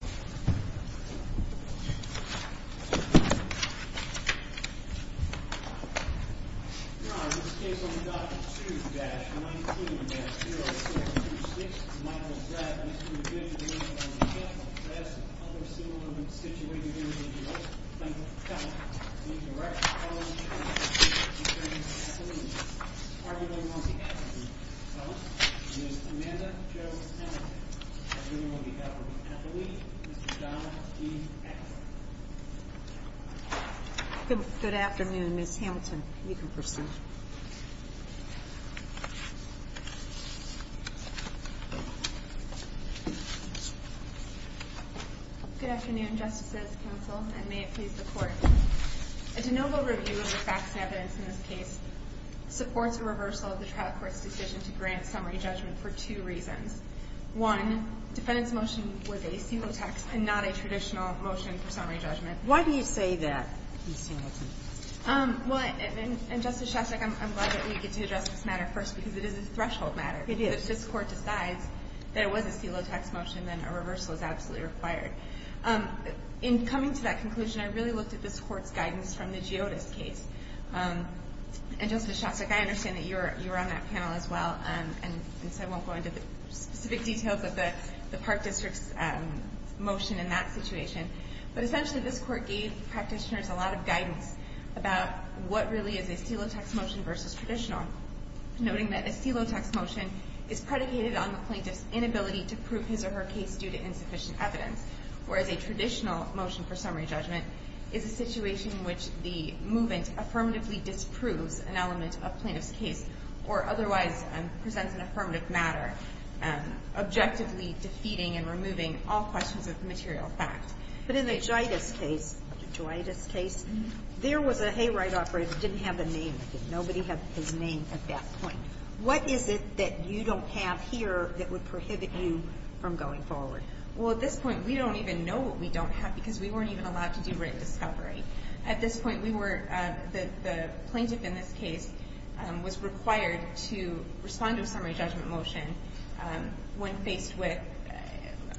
This case on Dr. 2-19-0626, Michael Drab, is to be judged based on the death of a class and other similar situations in the U.S. Michael Drab. Dr. 2-19-0626, Michael Drab, is to be judged based on the death of a class and other similar situations in the U.S. A de novo review of the facts and evidence in this case supports a reversal of the trial court's decision to grant summary judgment for two reasons. One, defendant's motion was a celotex and not a traditional motion for summary judgment. Why do you say that? Well, and Justice Shostak, I'm glad that we get to address this matter first because it is a threshold matter. It is. If this Court decides that it was a celotex motion, then a reversal is absolutely required. In coming to that conclusion, I really looked at this Court's guidance from the Giotis case. And Justice Shostak, I understand that you were on that panel as well, and so I won't go into the specific details of the Park District's motion in that situation. But essentially, this Court gave practitioners a lot of guidance about what really is a celotex motion versus traditional, noting that a celotex motion is predicated on the plaintiff's inability to prove his or her case due to insufficient evidence, whereas a traditional motion for summary judgment is a situation in which the movement affirmatively disproves an element of a plaintiff's case or otherwise presents an affirmative matter, objectively defeating and removing all questions of the material fact. But in the Giotis case, the Giotis case, there was a hayride operator who didn't have a name. Nobody had his name at that point. What is it that you don't have here that would prohibit you from going forward? Well, at this point, we don't even know what we don't have because we weren't even allowed to do written discovery. At this point, we were the plaintiff in this case was required to respond to a summary judgment motion when faced with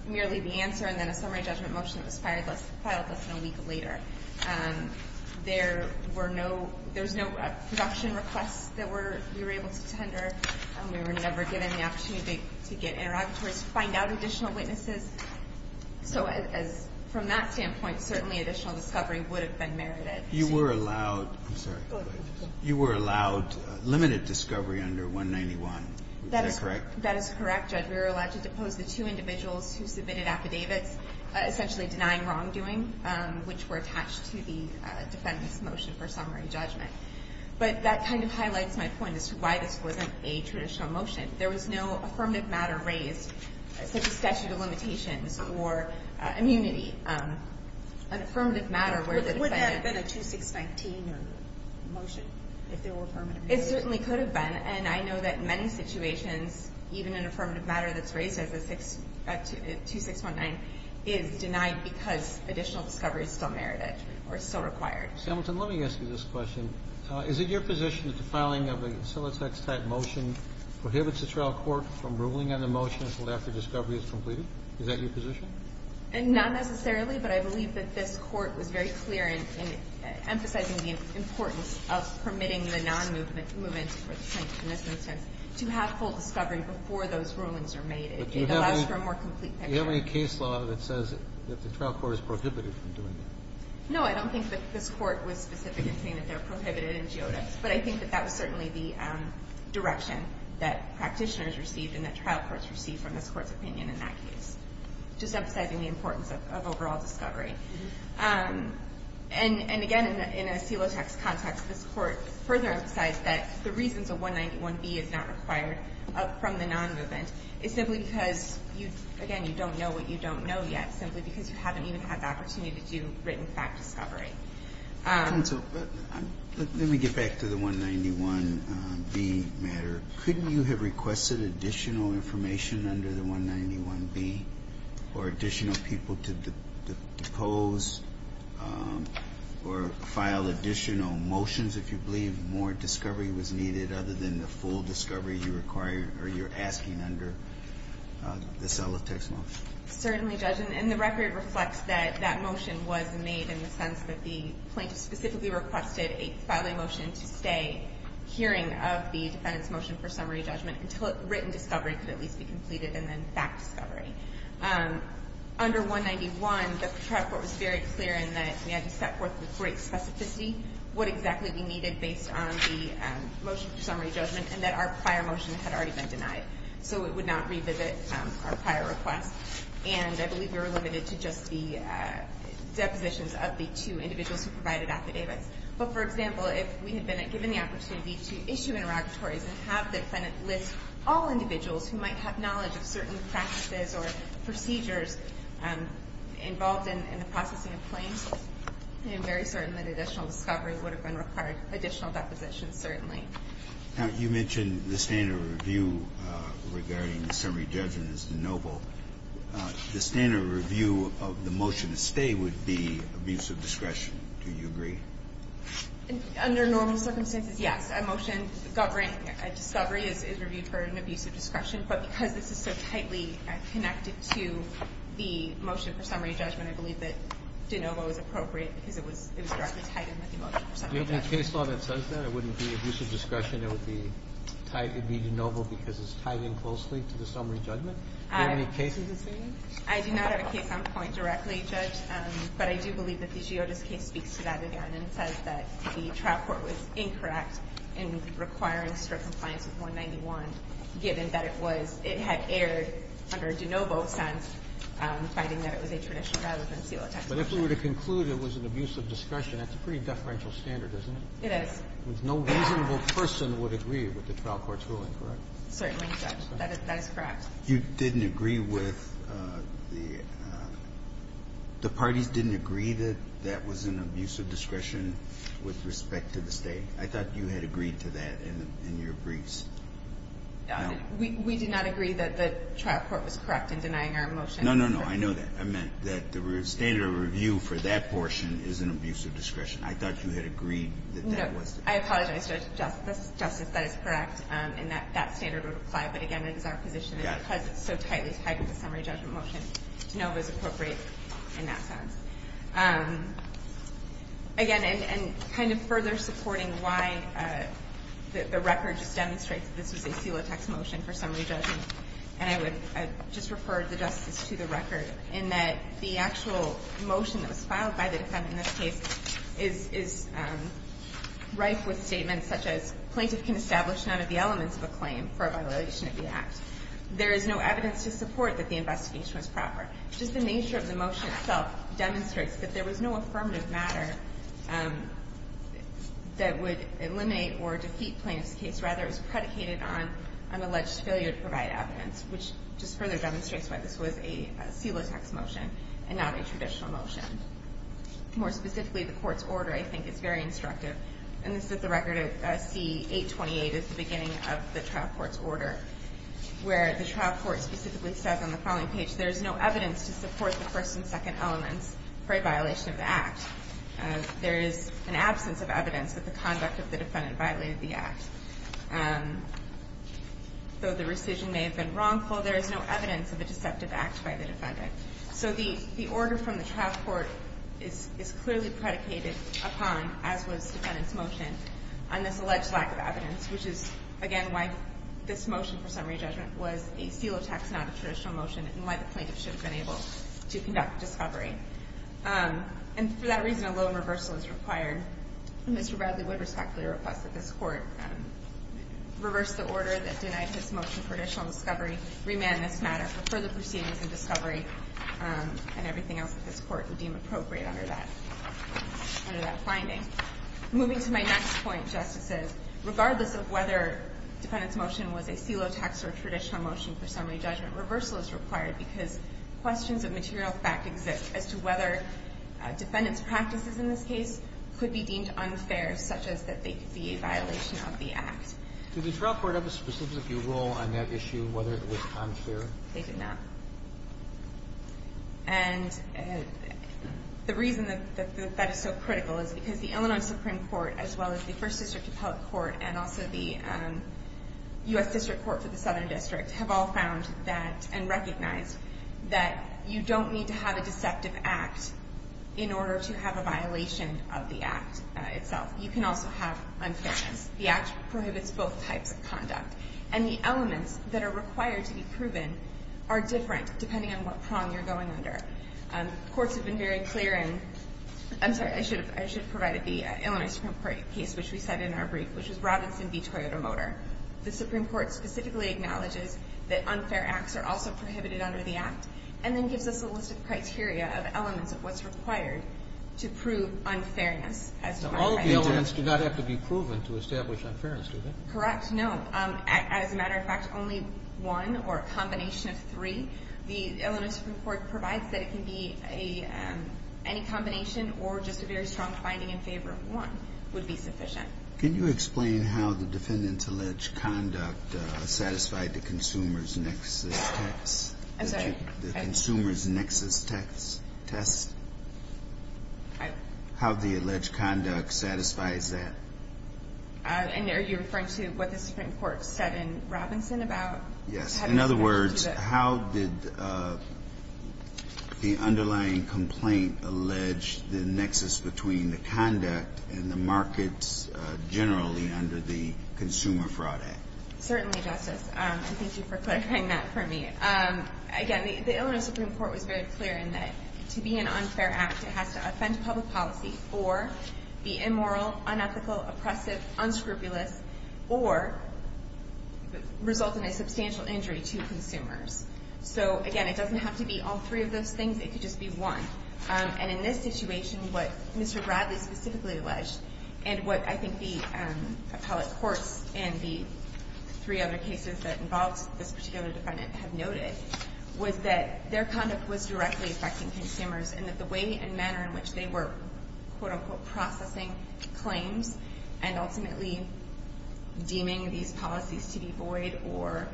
merely the answer and then a summary judgment motion that was filed less than a week later. There were no – there was no production requests that we were able to tender, and we were never given the opportunity to get interrogatories to find out additional witnesses. So as – from that standpoint, certainly additional discovery would have been merited. You were allowed – I'm sorry. Go ahead. You were allowed limited discovery under 191. Is that correct? That is correct, Judge. We were allowed to depose the two individuals who submitted affidavits essentially and denying wrongdoing, which were attached to the defendant's motion for summary judgment. But that kind of highlights my point as to why this wasn't a traditional motion. There was no affirmative matter raised, such as statute of limitations or immunity, an affirmative matter where the defendant – Would it have been a 2619 motion if there were affirmative – It certainly could have been, and I know that in many situations, even an affirmative matter that's raised as a 2619 is denied because additional discovery is still merited or still required. Hamilton, let me ask you this question. Is it your position that the filing of a Silatex-type motion prohibits the trial court from ruling on the motion until after discovery is completed? Is that your position? Not necessarily, but I believe that this Court was very clear in emphasizing the importance of permitting the non-movement for the plaintiff in this instance to have full discovery before those rulings are made. It allows for a more complete picture. Do you have any case law that says that the trial court is prohibited from doing that? No, I don't think that this Court was specific in saying that they're prohibited in Giotta, but I think that that was certainly the direction that practitioners received and that trial courts received from this Court's opinion in that case, just emphasizing the importance of overall discovery. And again, in a Silatex context, this Court further emphasized that the reasons the 191B is not required from the non-movement is simply because, again, you don't know what you don't know yet, simply because you haven't even had the opportunity to do written fact discovery. Counsel, let me get back to the 191B matter. Couldn't you have requested additional information under the 191B or additional people to depose or file additional motions if you believe more discovery was needed other than the full discovery you require or you're asking under the Silatex motion? Certainly, Judge. And the record reflects that that motion was made in the sense that the plaintiff specifically requested a filing motion to stay hearing of the defendant's motion for summary judgment until written discovery could at least be completed and then fact discovery. Under 191, the trial court was very clear in that we had to set forth with great specificity what exactly we needed based on the motion for summary judgment and that our prior motion had already been denied. So it would not revisit our prior request. And I believe we were limited to just the depositions of the two individuals who provided affidavits. But, for example, if we had been given the opportunity to issue interrogatories and have the defendant list all individuals who might have knowledge of certain practices or procedures involved in the processing of claims, I am very certain that additional discovery would have been required, additional depositions certainly. Now, you mentioned the standard review regarding the summary judgment as de novo. The standard review of the motion to stay would be abuse of discretion. Do you agree? Under normal circumstances, yes. A motion governing a discovery is reviewed for an abuse of discretion. But because this is so tightly connected to the motion for summary judgment, I believe that de novo is appropriate because it was directly tied in with the motion for summary judgment. Do you have any case law that says that? It wouldn't be abuse of discretion? It would be de novo because it's tied in closely to the summary judgment? Do you have any cases that say that? I do not have a case on point directly, Judge, but I do believe that the Giotas case speaks to that again and says that the trial court was incorrect in requiring strict compliance with 191, given that it had erred under de novo since, finding that it was a tradition rather than seal of testimony. But if we were to conclude it was an abuse of discretion, that's a pretty deferential standard, isn't it? It is. No reasonable person would agree with the trial court's ruling, correct? Certainly not. That is correct. You didn't agree with the parties didn't agree that that was an abuse of discretion with respect to the State. I thought you had agreed to that in your briefs. We did not agree that the trial court was correct in denying our motion. No, no, no. I know that. I meant that the standard of review for that portion is an abuse of discretion. I thought you had agreed that that was. No. I apologize, Justice. That is correct, and that standard would apply. But, again, it is our position that because it's so tightly tied to the summary judgment motion, de novo is appropriate in that sense. Again, and kind of further supporting why the record just demonstrates that this was a seal-of-text motion for summary judgment, and I would just refer the Justice to the record, in that the actual motion that was filed by the defendant in this case is rife with statements such as plaintiff can establish none of the elements of a claim for a violation of the Act. There is no evidence to support that the investigation was proper. Just the nature of the motion itself demonstrates that there was no affirmative matter that would eliminate or defeat plaintiff's case. Rather, it was predicated on an alleged failure to provide evidence, which just further demonstrates why this was a seal-of-text motion and not a traditional motion. More specifically, the Court's order, I think, is very instructive, and this is the record of C. 828 at the beginning of the trial court's order, where the trial court specifically says on the following page, there is no evidence to support the first and second elements for a violation of the Act. There is an absence of evidence that the conduct of the defendant violated the Act. Though the rescission may have been wrongful, there is no evidence of a deceptive Act by the defendant. So the order from the trial court is clearly predicated upon, as was defendant's motion, on this alleged lack of evidence, which is, again, why this motion for summary judgment was a seal-of-text, not a traditional motion, and why the And for that reason alone, reversal is required. Mr. Bradley would respectfully request that this Court reverse the order that denied his motion for additional discovery, remand this matter for further proceedings in discovery, and everything else that this Court would deem appropriate under that finding. Moving to my next point, Justices, regardless of whether defendant's motion was a seal-of-text or traditional motion for summary judgment, reversal is required because questions of material fact exist as to whether defendant's practices in this case could be deemed unfair, such as that they could be a violation of the Act. Did the trial court have a specific view role on that issue, whether it was unfair? They did not. And the reason that that is so critical is because the Illinois Supreme Court, as well as the First District Appellate Court and also the U.S. District Court for instance, that you don't need to have a deceptive act in order to have a violation of the Act itself. You can also have unfairness. The Act prohibits both types of conduct. And the elements that are required to be proven are different depending on what prong you're going under. Courts have been very clear in – I'm sorry, I should have provided the Illinois Supreme Court case which we cited in our brief, which was Robinson v. Toyota Motor. The Supreme Court specifically acknowledges that unfair acts are also prohibited under the Act. And then gives us a list of criteria of elements of what's required to prove unfairness. So all of the elements do not have to be proven to establish unfairness, do they? Correct. No. As a matter of fact, only one or a combination of three. The Illinois Supreme Court provides that it can be any combination or just a very strong finding in favor of one would be sufficient. Can you explain how the defendant's alleged conduct satisfied the consumer's nexus test? I'm sorry? The consumer's nexus test? How the alleged conduct satisfies that? Are you referring to what the Supreme Court said in Robinson about having to go through the – Yes. generally under the Consumer Fraud Act? Certainly, Justice, and thank you for clarifying that for me. Again, the Illinois Supreme Court was very clear in that to be an unfair act, it has to offend public policy or be immoral, unethical, oppressive, unscrupulous, or result in a substantial injury to consumers. So, again, it doesn't have to be all three of those things. It could just be one. And in this situation, what Mr. Bradley specifically alleged and what I think the appellate courts and the three other cases that involved this particular defendant have noted was that their conduct was directly affecting consumers and that the way and manner in which they were, quote-unquote, processing claims and ultimately deeming these policies to be void or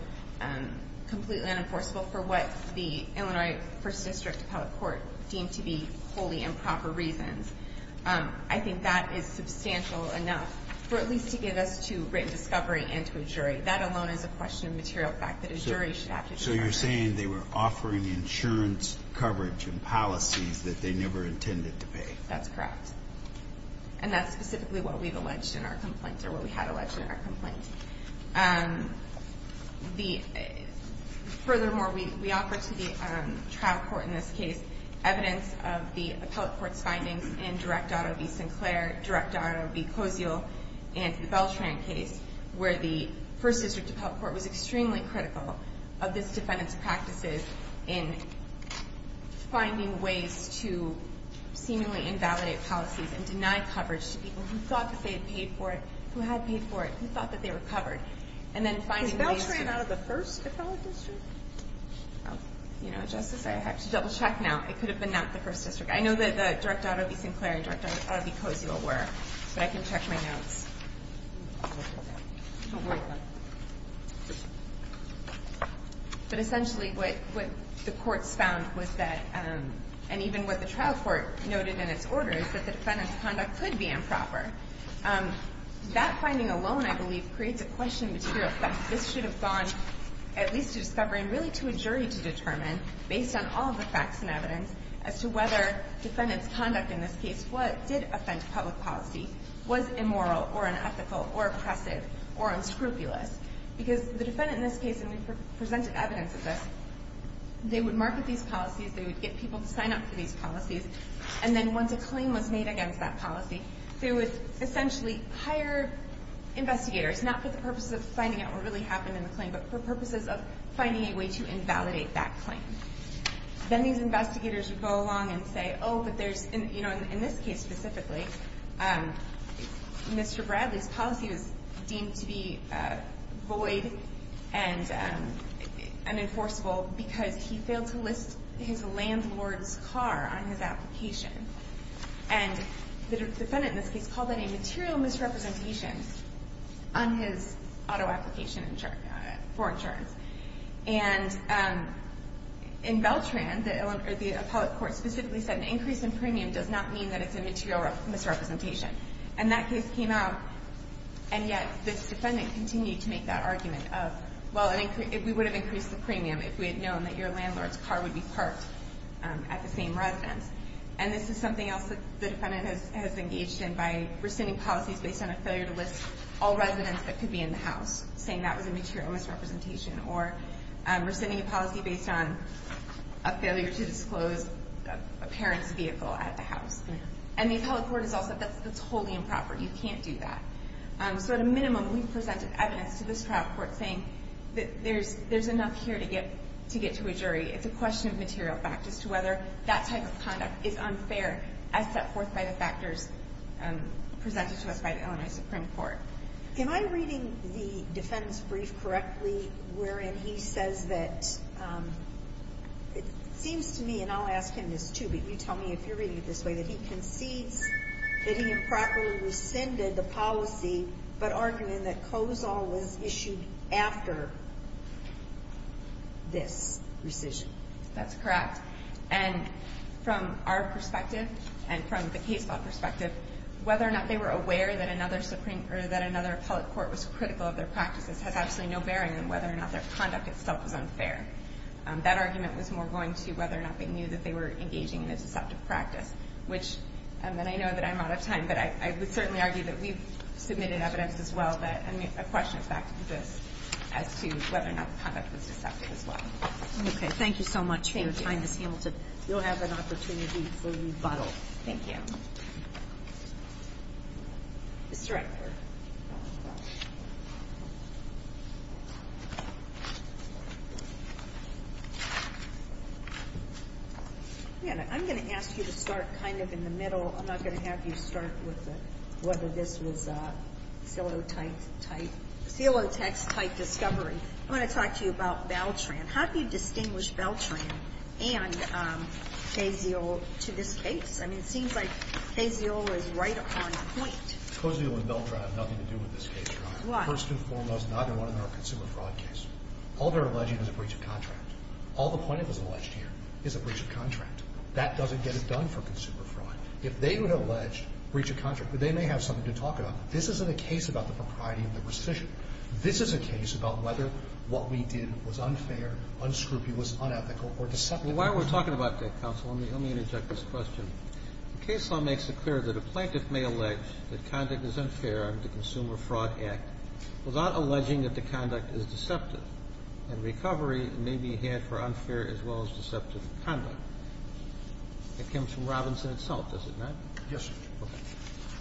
completely unenforceable for what the Illinois First District appellate court deemed to be wholly improper reasons. I think that is substantial enough for at least to give us to written discovery and to a jury. That alone is a question of material fact that a jury should have to discover. So you're saying they were offering insurance coverage and policies that they never intended to pay. That's correct. And that's specifically what we've alleged in our complaint or what we had alleged in our complaint. Furthermore, we offer to the trial court in this case evidence of the appellate court's findings in Direct Auto v. Sinclair, Direct Auto v. Cozio, and the Beltran case, where the First District appellate court was extremely critical of this defendant's practices in finding ways to seemingly invalidate policies and deny coverage to people who thought that they had paid for it, who had paid for it, who thought that they were covered. And then finding ways to... Is Beltran out of the First Appellate District? You know, Justice, I have to double check now. It could have been not the First District. I know that the Direct Auto v. Sinclair and Direct Auto v. Cozio were, but I can check my notes. But essentially what the courts found was that, and even what the trial court noted in its order, is that the defendant's conduct could be improper. That finding alone, I believe, creates a question to the effect that this should have gone at least to discovery and really to a jury to determine, based on all of the facts and evidence, as to whether the defendant's conduct in this case did offend public policy, was immoral or unethical or oppressive or unscrupulous. Because the defendant in this case, and we presented evidence of this, they would market these policies, they would get people to sign up for these policies, and then once a claim was made against that policy, they would essentially hire investigators, not for the purposes of finding out what really happened in the claim, but for purposes of finding a way to invalidate that claim. Then these investigators would go along and say, oh, but there's, you know, in this case specifically, Mr. Bradley's policy was deemed to be void and unenforceable because he failed to list his landlord's car on his application. And the defendant in this case called that a material misrepresentation on his auto application for insurance. And in Beltran, the appellate court specifically said an increase in premium does not mean that it's a material misrepresentation. And that case came out, and yet this defendant continued to make that argument of, well, we would have increased the premium if we had known that your landlord's car would be parked at the same residence. And this is something else that the defendant has engaged in by rescinding policies based on a failure to list all residents that could be in the house, saying that was a material misrepresentation, or rescinding a policy based on a failure to disclose a parent's vehicle at the house. And the appellate court has also said that's totally improper. You can't do that. So at a minimum, we've presented evidence to this trial court saying that there's enough here to get to a jury. It's a question of material fact as to whether that type of conduct is unfair as set forth by the factors presented to us by the Illinois Supreme Court. Am I reading the defendant's brief correctly wherein he says that it seems to me, and I'll ask him this too, but you tell me if you're reading it this way, that he concedes that he improperly rescinded the policy but arguing that COSOL was issued after this rescission. That's correct. And from our perspective and from the case law perspective, whether or not they were aware that another appellate court was critical of their practices has absolutely no bearing on whether or not their conduct itself was unfair. That argument was more going to whether or not they knew that they were engaging in a deceptive practice, which I know that I'm out of time, but I would certainly argue that we've submitted evidence as well that a question of fact exists as to whether or not the conduct was deceptive as well. Okay. Thank you so much for your time, Ms. Hamilton. Thank you. You'll have an opportunity for rebuttal. Thank you. Mr. Eckford. I'm going to ask you to start kind of in the middle. I'm not going to have you start with whether this was a philotype type discovery. I want to talk to you about Valtran. How do you distinguish Valtran and KZO to this case? I mean, it seems like KZO is right on point. KZO and Valtran have nothing to do with this case, Your Honor. Why? First and foremost, neither one of them are a consumer fraud case. All they're alleging is a breach of contract. All the plaintiff is alleged here is a breach of contract. That doesn't get it done for consumer fraud. If they were to allege breach of contract, they may have something to talk about. This isn't a case about the propriety and the rescission. This is a case about whether what we did was unfair, unscrupulous, unethical, or deceptive. Well, while we're talking about that, counsel, let me interject this question. The case law makes it clear that a plaintiff may allege that conduct is unfair under the Consumer Fraud Act without alleging that the conduct is deceptive, and recovery may be had for unfair as well as deceptive conduct. It comes from Robinson itself, does it not? Yes, sir. Okay.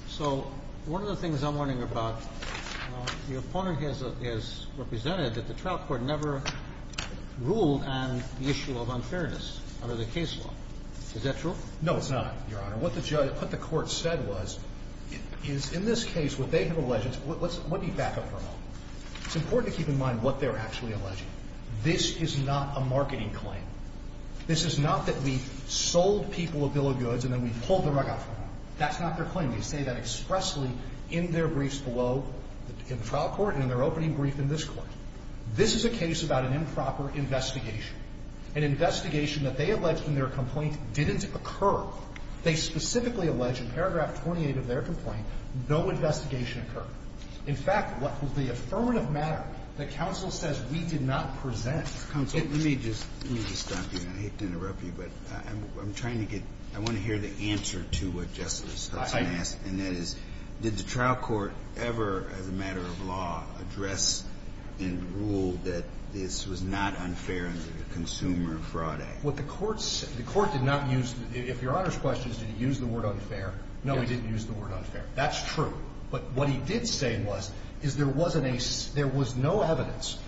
So one of the things I'm wondering about, the opponent has represented that the trial court never ruled on the issue of unfairness under the case law. Is that true? No, it's not, Your Honor. What the court said was, is in this case what they have alleged is – let me back up for a moment. It's important to keep in mind what they're actually alleging. This is not a marketing claim. This is not that we've sold people a bill of goods and then we've pulled the rug out from under them. That's not their claim. We say that expressly in their briefs below, in the trial court and in their opening brief in this Court. This is a case about an improper investigation, an investigation that they alleged in their complaint didn't occur. They specifically allege in paragraph 28 of their complaint no investigation occurred. In fact, what the affirmative matter that counsel says we did not present. Counsel, let me just stop you. I hate to interrupt you, but I'm trying to get – I want to hear the answer to what Justice Hudson asked, and that is, did the trial court ever, as a matter of law, address and rule that this was not unfair under the Consumer Fraud Act? What the court said – the court did not use – if Your Honor's question is, did he use the word unfair, no, he didn't use the word unfair. That's true. But what he did say was, is there wasn't a – there was no evidence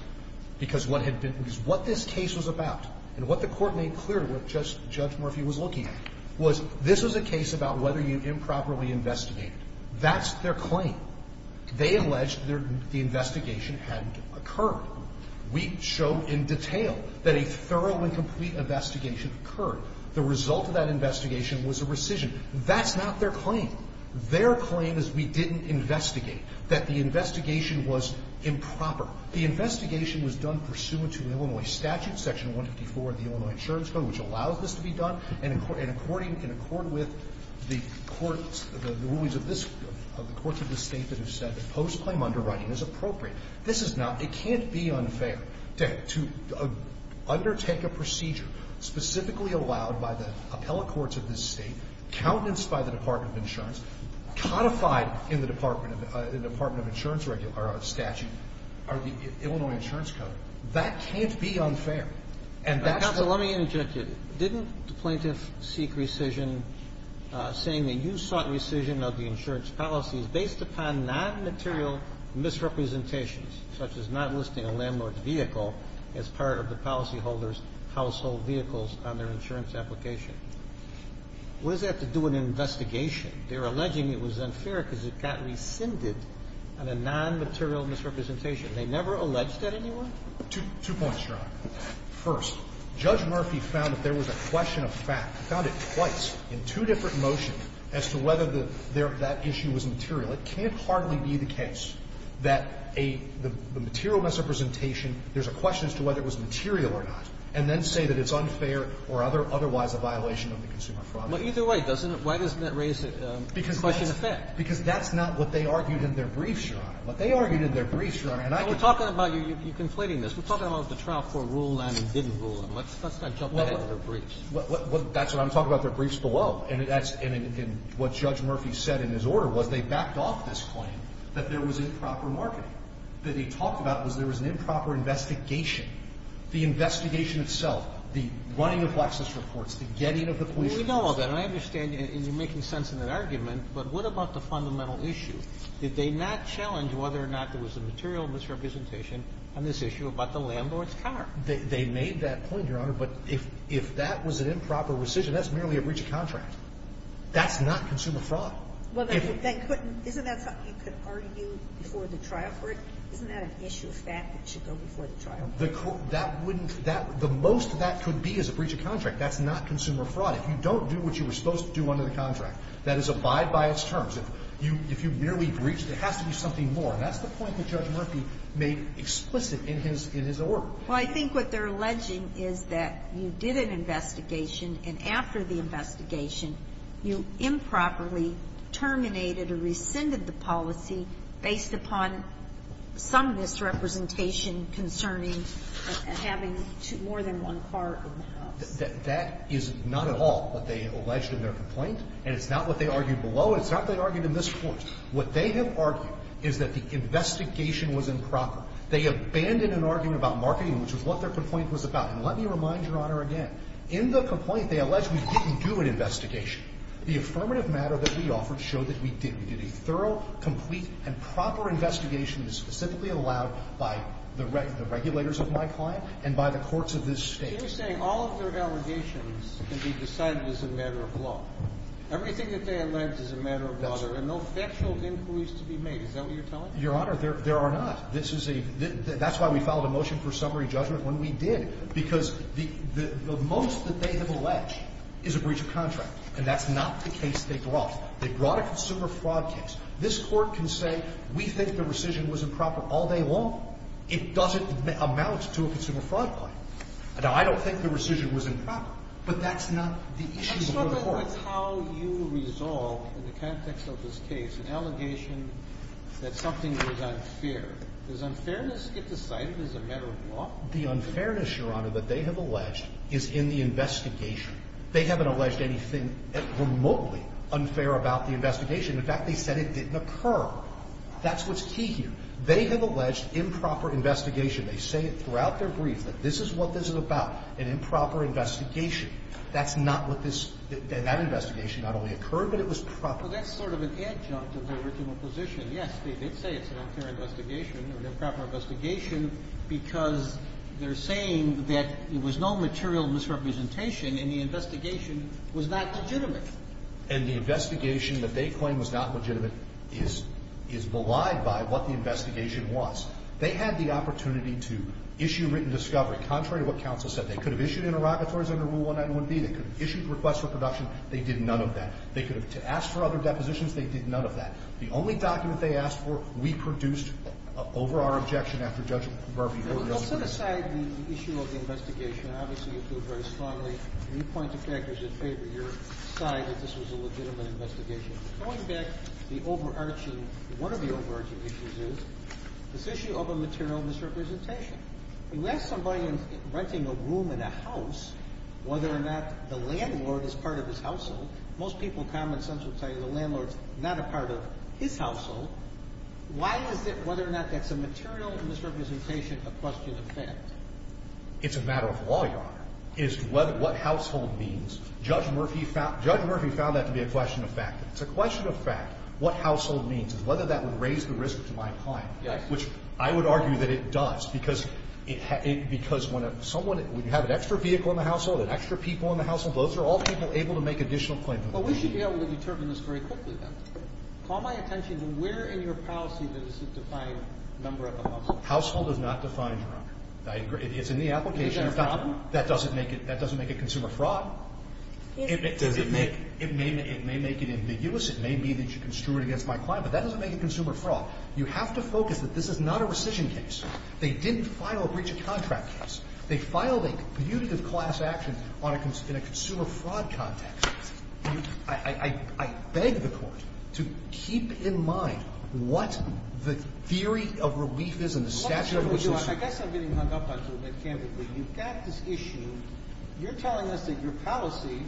because what had been – because what this case was about, and what the court made clear to what Judge Murphy was looking at, was this was a case about whether you improperly investigated. That's their claim. They alleged the investigation hadn't occurred. We showed in detail that a thorough and complete investigation occurred. The result of that investigation was a rescission. That's not their claim. Their claim is we didn't investigate, that the investigation was improper. The investigation was done pursuant to Illinois statute, Section 154 of the Illinois Insurance Code, which allows this to be done, and according – in accord with the court's – the rulings of this – of the courts of this State that have said that post-claim underwriting is appropriate. This is not – it can't be unfair to undertake a procedure specifically allowed by the appellate courts of this State, countenanced by the Department of Insurance, codified in the Department of – the Department of Insurance statute, or the Illinois Insurance Code. That can't be unfair. And that's the – Counsel, let me interject here. Didn't the plaintiff seek rescission saying that you sought rescission of the insurance policy based upon nonmaterial misrepresentations, such as not listing a landlord's vehicle as part of the policyholder's household vehicles on their insurance application? What does that have to do with an investigation? They're alleging it was unfair because it got rescinded on a nonmaterial misrepresentation. They never alleged that anywhere? Two points, Your Honor. First, Judge Murphy found that there was a question of fact. He found it twice in two different motions as to whether the – that issue was material. It can't hardly be the case that a – the material misrepresentation – there's a question as to whether it was material or not, and then say that it's unfair or otherwise a violation of the consumer fraud law. Well, either way, doesn't it – why doesn't that raise a question of fact? Because that's not what they argued in their briefs, Your Honor. What they argued in their briefs, Your Honor, and I can tell you – Well, we're talking about – you're conflating this. We're talking about the Trial Court ruled on and didn't rule on. Let's not jump ahead to their briefs. Well, that's what I'm talking about, their briefs below. And that's – and what Judge Murphy said in his order was they backed off this claim that there was improper marketing. What he talked about was there was an improper investigation. The investigation itself, the running of Lexis reports, the getting of the police – We know all that, and I understand, and you're making sense in that argument, but what about the fundamental issue? Did they not challenge whether or not there was a material misrepresentation on this issue about the landlord's car? They made that point, Your Honor, but if that was an improper rescission, that's merely a breach of contract. That's not consumer fraud. Well, they couldn't – isn't that something you could argue before the trial court? Isn't that an issue of fact that should go before the trial? That wouldn't – the most that could be is a breach of contract. That's not consumer fraud. If you don't do what you were supposed to do under the contract, that is abide by its terms. If you merely breach, there has to be something more. And that's the point that Judge Murphy made explicit in his order. Well, I think what they're alleging is that you did an investigation, and after the investigation, you improperly terminated or rescinded the policy based upon some misrepresentation concerning having more than one car in the house. That is not at all what they alleged in their complaint, and it's not what they argued below. It's not what they argued in this court. What they have argued is that the investigation was improper. They abandoned an argument about marketing, which is what their complaint was about. And let me remind Your Honor again, in the complaint, they allege we didn't do an investigation. The affirmative matter that we offered showed that we did. We did a thorough, complete, and proper investigation specifically allowed by the regulators of my client and by the courts of this State. You're saying all of their allegations can be decided as a matter of law. Everything that they allege is a matter of law. There are no factual inquiries to be made. Is that what you're telling me? Your Honor, there are not. This is a – that's why we filed a motion for summary judgment when we did, because the most that they have alleged is a breach of contract. And that's not the case they brought. They brought a consumer fraud case. This Court can say we think the rescission was improper all day long. It doesn't amount to a consumer fraud claim. Now, I don't think the rescission was improper, but that's not the issue of the court. But that's how you resolve, in the context of this case, an allegation that something was unfair. Does unfairness get decided as a matter of law? The unfairness, Your Honor, that they have alleged is in the investigation. They haven't alleged anything remotely unfair about the investigation. In fact, they said it didn't occur. That's what's key here. They have alleged improper investigation. They say it throughout their brief that this is what this is about, an improper investigation. That's not what this – that investigation not only occurred, but it was proper. Well, that's sort of an adjunct of their original position. Yes, they did say it's an unfair investigation or an improper investigation because they're saying that there was no material misrepresentation and the investigation was not legitimate. And the investigation that they claim was not legitimate is belied by what the investigation was. They had the opportunity to issue written discovery. Contrary to what counsel said, they could have issued interrogatories under Rule 191B. They could have issued requests for production. They did none of that. They could have – to ask for other depositions, they did none of that. The only document they asked for we produced over our objection after Judge Barbee ordered us to do it. Well, set aside the issue of the investigation. Obviously, you feel very strongly and you point to factors in favor. You're side that this was a legitimate investigation. Going back, the overarching – one of the overarching issues is this issue of a material misrepresentation. You ask somebody renting a room in a house whether or not the landlord is part of his household. Most people, common sense would tell you the landlord's not a part of his household. Why is it whether or not that's a material misrepresentation a question of fact? It's a matter of law, Your Honor. It's what household means. Judge Murphy found that to be a question of fact. It's a question of fact what household means and whether that would raise the risk to my client. Yes. Which I would argue that it does because it – because when someone – when you have an extra vehicle in the household, an extra people in the household, those are all people able to make additional claims. But we should be able to determine this very quickly, then. Call my attention to where in your policy does it define number of a household. Household does not define, Your Honor. I agree. It's in the application. Is that a problem? That doesn't make it – that doesn't make it consumer fraud. It doesn't make – it may make it ambiguous. It may be that you can stew it against my client. But that doesn't make it consumer fraud. You have to focus that this is not a rescission case. They didn't file a breach of contract case. They filed a punitive class action on a – in a consumer fraud context. I – I beg the Court to keep in mind what the theory of relief is and the statute of limitations. I guess I'm getting hung up on you a bit, candidly. You've got this issue. You're telling us that your policy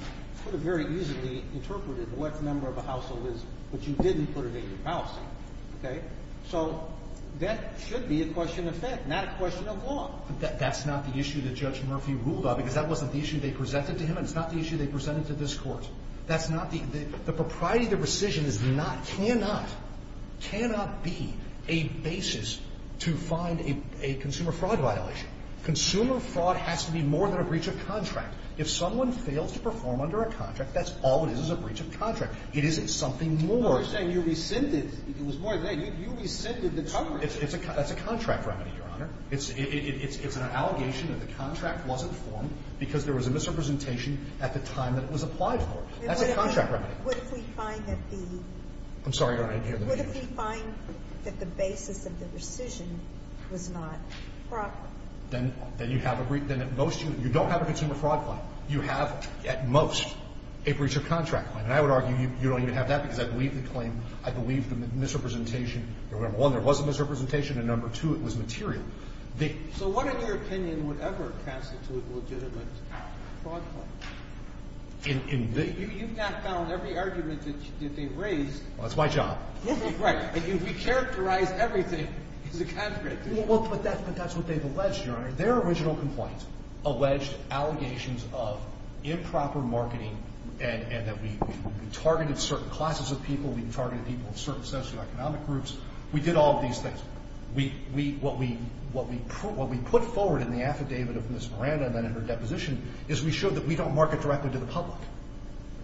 could have very easily interpreted what the number of a household is, but you didn't put it in your policy. Okay? So that should be a question of fact, not a question of law. But that's not the issue that Judge Murphy ruled on because that wasn't the issue they presented to him and it's not the issue they presented to this Court. That's not the – the propriety of the rescission is not – cannot – cannot be a basis to find a consumer fraud violation. Consumer fraud has to be more than a breach of contract. If someone fails to perform under a contract, that's all it is, is a breach of contract. It isn't something more. You're saying you rescinded – it was more than that. You – you rescinded the coverage. It's a – that's a contract remedy, Your Honor. It's – it's an allegation that the contract wasn't formed because there was a misrepresentation at the time that it was applied for. That's a contract remedy. What if we find that the – I'm sorry, Your Honor. I didn't hear the question. What if we find that the basis of the rescission was not proper? Then – then you have a breach – then at most you – you don't have a consumer fraud claim. You have, at most, a breach of contract claim. And I would argue you don't even have that because I believe the claim – I believe the misrepresentation. Remember, one, there was a misrepresentation, and number two, it was material. The – So what, in your opinion, would ever constitute a legitimate fraud claim? In – in the – You've not found every argument that you – that they've raised. Well, that's my job. Right. And you've recharacterized everything as a contract. Well, but that's – but that's what they've alleged, Your Honor. Their original complaint alleged allegations of improper marketing and that we targeted certain classes of people. We targeted people in certain socioeconomic groups. We did all of these things. We – we – what we – what we put forward in the affidavit of Ms. Miranda and then in her deposition is we showed that we don't market directly to the public,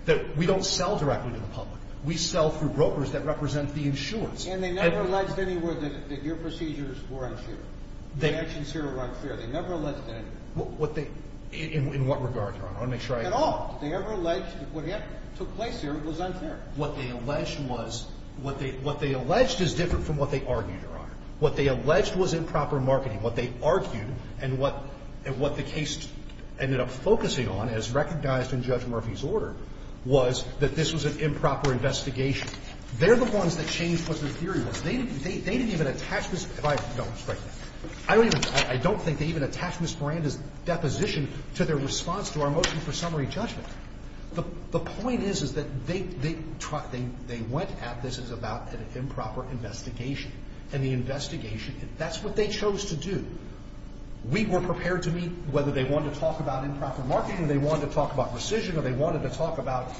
that we don't sell directly to the public. We sell through brokers that represent the insurance. And they never alleged anywhere that your procedures were unfair. They – The actions here were unfair. They never alleged anything. What they – in what regard, Your Honor? I want to make sure I – At all. Did they ever allege that what took place here was unfair? What they alleged was – what they – what they alleged is different from what they argued, Your Honor. What they alleged was improper marketing. What they argued and what – and what the case ended up focusing on, as recognized in Judge Murphy's order, was that this was an improper investigation. They're the ones that changed what the theory was. They didn't – they didn't even attach Ms. – if I – no, it's great. I don't even – I don't think they even attached Ms. Miranda's deposition to their response to our motion for summary judgment. The point is, is that they – they went at this as about an improper investigation. And the investigation – that's what they chose to do. We were prepared to meet – whether they wanted to talk about improper marketing or they wanted to talk about rescission or they wanted to talk about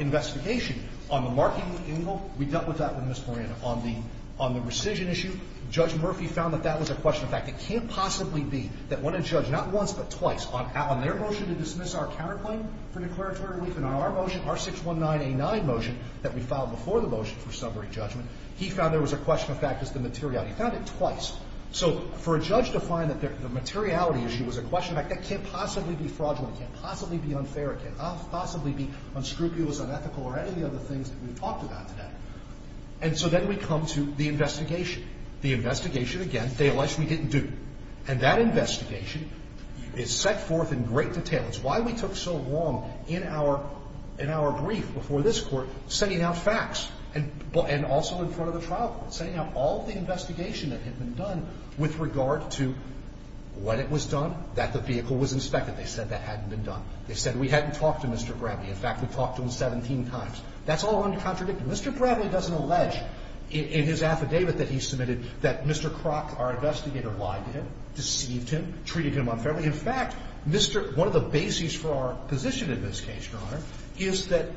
investigation on the marketing angle, we dealt with that with Ms. Miranda. On the – on the rescission issue, Judge Murphy found that that was a question of fact. It can't possibly be that when a judge – not once, but twice – on their motion to dismiss our counterclaim for declaratory relief and on our motion, our 619A9 motion that we filed before the motion for summary judgment, he found there was a question of fact as to the materiality. He found it twice. So for a judge to find that the materiality issue was a question of fact, that can't possibly be fraudulent. It can't possibly be unfair. It can't possibly be unscrupulous, unethical, or any of the other things that we've talked about today. And so then we come to the investigation. The investigation, again, they alleged we didn't do. And that investigation is set forth in great detail. It's why we took so long in our – in our brief before this Court sending out facts and – and also in front of the trial court, sending out all the investigation that had been done with regard to when it was done, that the vehicle was inspected. They said that hadn't been done. They said we hadn't talked to Mr. Bradley. In fact, we talked to him 17 times. That's all uncontradictory. Mr. Bradley doesn't allege in his affidavit that he submitted that Mr. Kroc, our investigator, lied to him, deceived him, treated him unfairly. In fact, Mr. – one of the bases for our position in this case, Your Honor, is that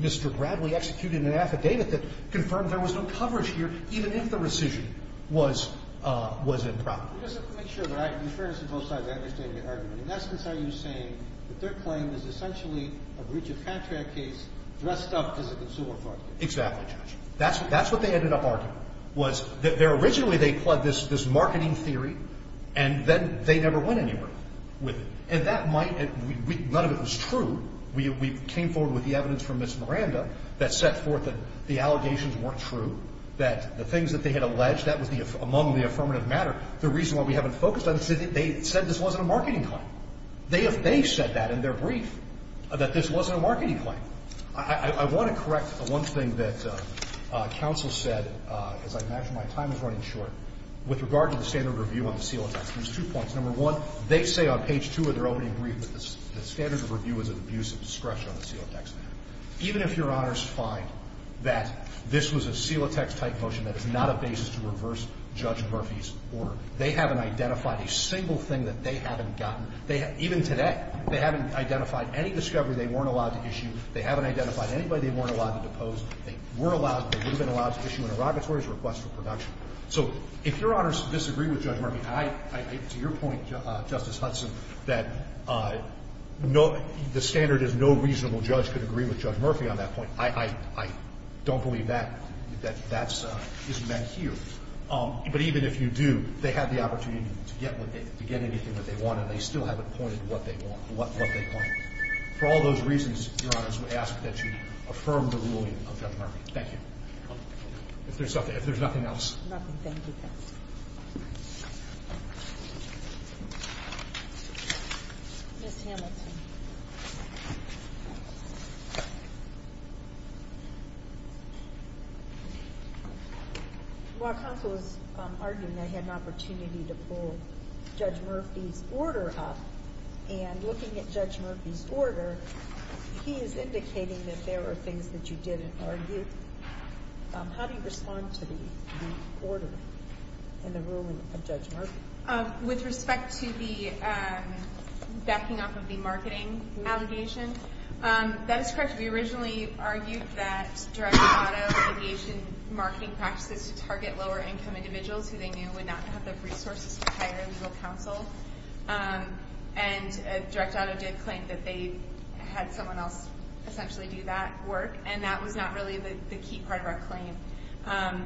Mr. Bradley executed an affidavit that confirmed there was no coverage here even if the rescission was – was improper. He doesn't make sure that I – in fairness to both sides, I understand your argument. In essence, are you saying that their claim is essentially a breach of contract case dressed up as a consumer fraud case? Exactly, Judge. That's – that's what they ended up arguing, was that their – originally they pled this – this marketing theory, and then they never went anywhere with it. And that might – none of it was true. We came forward with the evidence from Ms. Miranda that set forth that the allegations weren't true, that the things that they had alleged, that was the – among the allegations in the affirmative matter, the reason why we haven't focused on it, is that they said this wasn't a marketing claim. They have – they said that in their brief, that this wasn't a marketing claim. I want to correct one thing that counsel said. As I mentioned, my time is running short. With regard to the standard review on the CELOTEX, there's two points. Number one, they say on page two of their opening brief that the standard review was an abuse of discretion on the CELOTEX matter. Even if Your Honors find that this was a CELOTEX-type motion that is not a basis to reverse Judge Murphy's order, they haven't identified a single thing that they haven't gotten. They – even today, they haven't identified any discovery they weren't allowed to issue. They haven't identified anybody they weren't allowed to depose. They were allowed – they would have been allowed to issue an interrogatory request for production. So if Your Honors disagree with Judge Murphy, I – to your point, Justice Hudson, that no – the standard is no reasonable judge could agree with Judge Murphy on that I don't believe that – that that's – isn't met here. But even if you do, they have the opportunity to get what they – to get anything that they want, and they still haven't pointed to what they want – what they want. For all those reasons, Your Honors, we ask that you affirm the ruling of Judge Murphy. Thank you. If there's nothing else. Nothing. Thank you, counsel. Ms. Hamilton. While counsel was arguing, I had an opportunity to pull Judge Murphy's order up, and looking at Judge Murphy's order, he is indicating that there were things that you didn't argue. How do you respond to the order and the ruling of Judge Murphy? With respect to the backing up of the marketing allegation, that is correct. We originally argued that Direct Auto engaged in marketing practices to target lower-income individuals who they knew would not have the resources to hire legal counsel. And Direct Auto did claim that they had someone else essentially do that work, and that was not really the key part of our claim.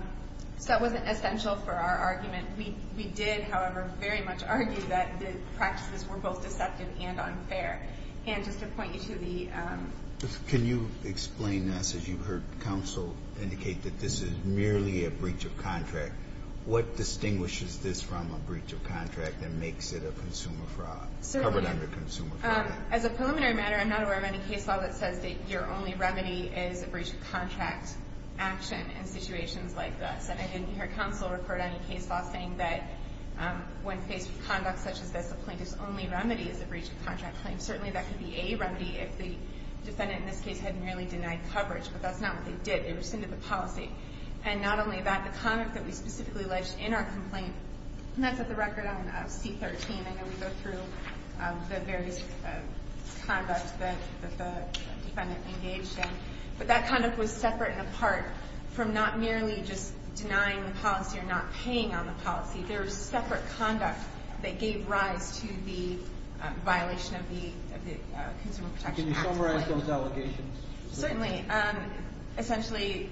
So that wasn't essential for our argument. We did, however, very much argue that the practices were both deceptive and unfair. And just to point you to the – Can you explain this? As you've heard counsel indicate that this is merely a breach of contract, what distinguishes this from a breach of contract that makes it a consumer fraud, covered under consumer fraud? As a preliminary matter, I'm not aware of any case law that says that your only remedy is a breach of contract action in situations like this. I didn't hear counsel refer to any case law saying that when faced with conduct such as this, the plaintiff's only remedy is a breach of contract claim. Certainly that could be a remedy if the defendant in this case had merely denied coverage, but that's not what they did. They rescinded the policy. And not only that, the conduct that we specifically alleged in our complaint – and that's at the record on C-13. I know we go through the various conducts that the defendant engaged in. But that conduct was separate and apart from not merely just denying the policy or not paying on the policy. There was separate conduct that gave rise to the violation of the Consumer Protection Act. Can you summarize those allegations? Certainly. Essentially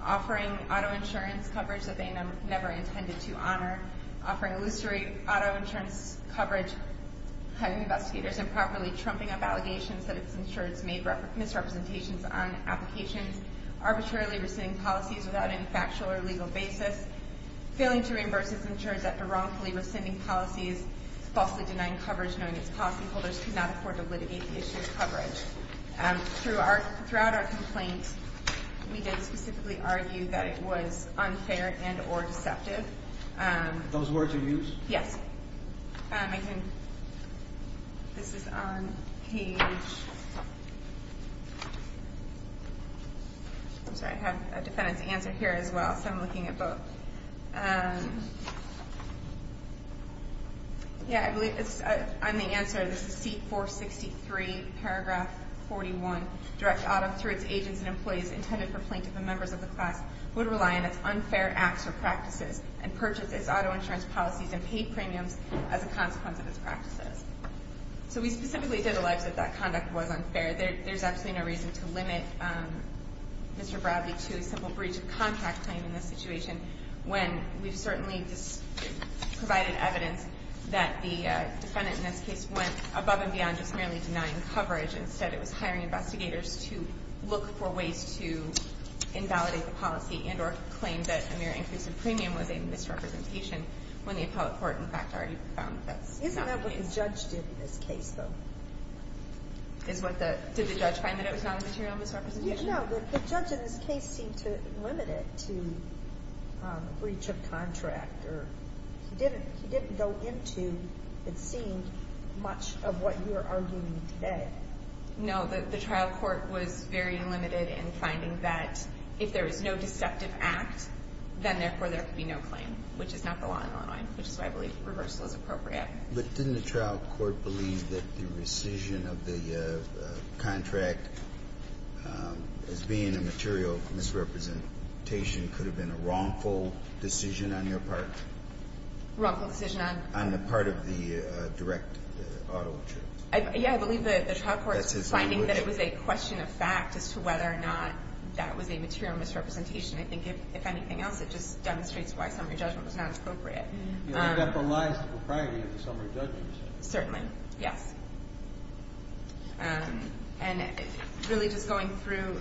offering auto insurance coverage that they never intended to honor, offering illusory auto insurance coverage, having investigators improperly trumping up allegations that its insureds made misrepresentations on applications, arbitrarily rescinding policies without any factual or legal basis, failing to reimburse its insureds after wrongfully rescinding policies, falsely denying coverage knowing its policyholders could not afford to litigate the issue of coverage. Throughout our complaint, we did specifically argue that it was unfair and or deceptive. Those words are used? Yes. Okay. This is on page – I'm sorry. I have a defendant's answer here as well, so I'm looking at both. Yeah, I believe it's on the answer. This is C-463, paragraph 41. Direct auto through its agents and employees intended for plaintiff and members of the class would rely on its unfair acts or practices and purchase its auto insurance policies and paid premiums as a consequence of its practices. So we specifically did allege that that conduct was unfair. There's absolutely no reason to limit Mr. Bradley to a simple breach of contract claim in this situation when we've certainly provided evidence that the defendant in this case went above and beyond just merely denying coverage. Instead, it was hiring investigators to look for ways to invalidate the policy and or claim that a mere increase in premium was a misrepresentation when the appellate court, in fact, already found that's not the case. Isn't that what the judge did in this case, though? Did the judge find that it was not a material misrepresentation? No. The judge in this case seemed to limit it to a breach of contract. He didn't go into, it seemed, much of what you're arguing today. No. The trial court was very limited in finding that if there was no deceptive act, then therefore there could be no claim, which is not the law in Illinois, which is why I believe reversal is appropriate. But didn't the trial court believe that the rescission of the contract as being a material misrepresentation could have been a wrongful decision on your part? Wrongful decision on? On the part of the direct auto insurance. Yeah, I believe the trial court finding that it was a question of fact as to whether or not that was a material misrepresentation. I think if anything else, it just demonstrates why summary judgment was not appropriate. I think that belies the propriety of the summary judgment. Certainly. Yes. And really just going through,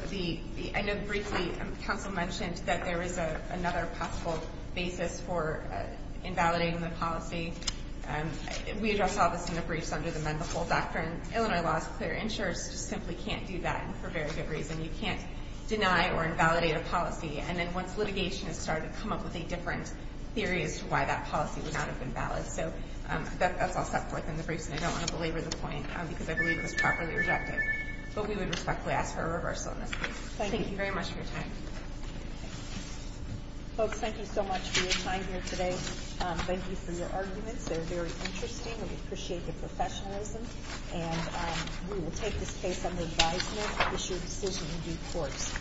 I know briefly counsel mentioned that there is another possible basis for invalidating the policy. We address all this in the briefs under the mend the whole doctrine. Illinois law is clear. Insurers just simply can't do that for very good reason. You can't deny or invalidate a policy. And then once litigation has started, come up with a different theory as to why that policy would not have been valid. So that's all set forth in the briefs, and I don't want to belabor the point because I believe it was properly rejected. But we would respectfully ask for a reversal in this case. Thank you. Thank you very much for your time. Folks, thank you so much for your time here today. Thank you for your arguments. They're very interesting. We appreciate the professionalism. And we will take this case under advisement, issue a decision in due course.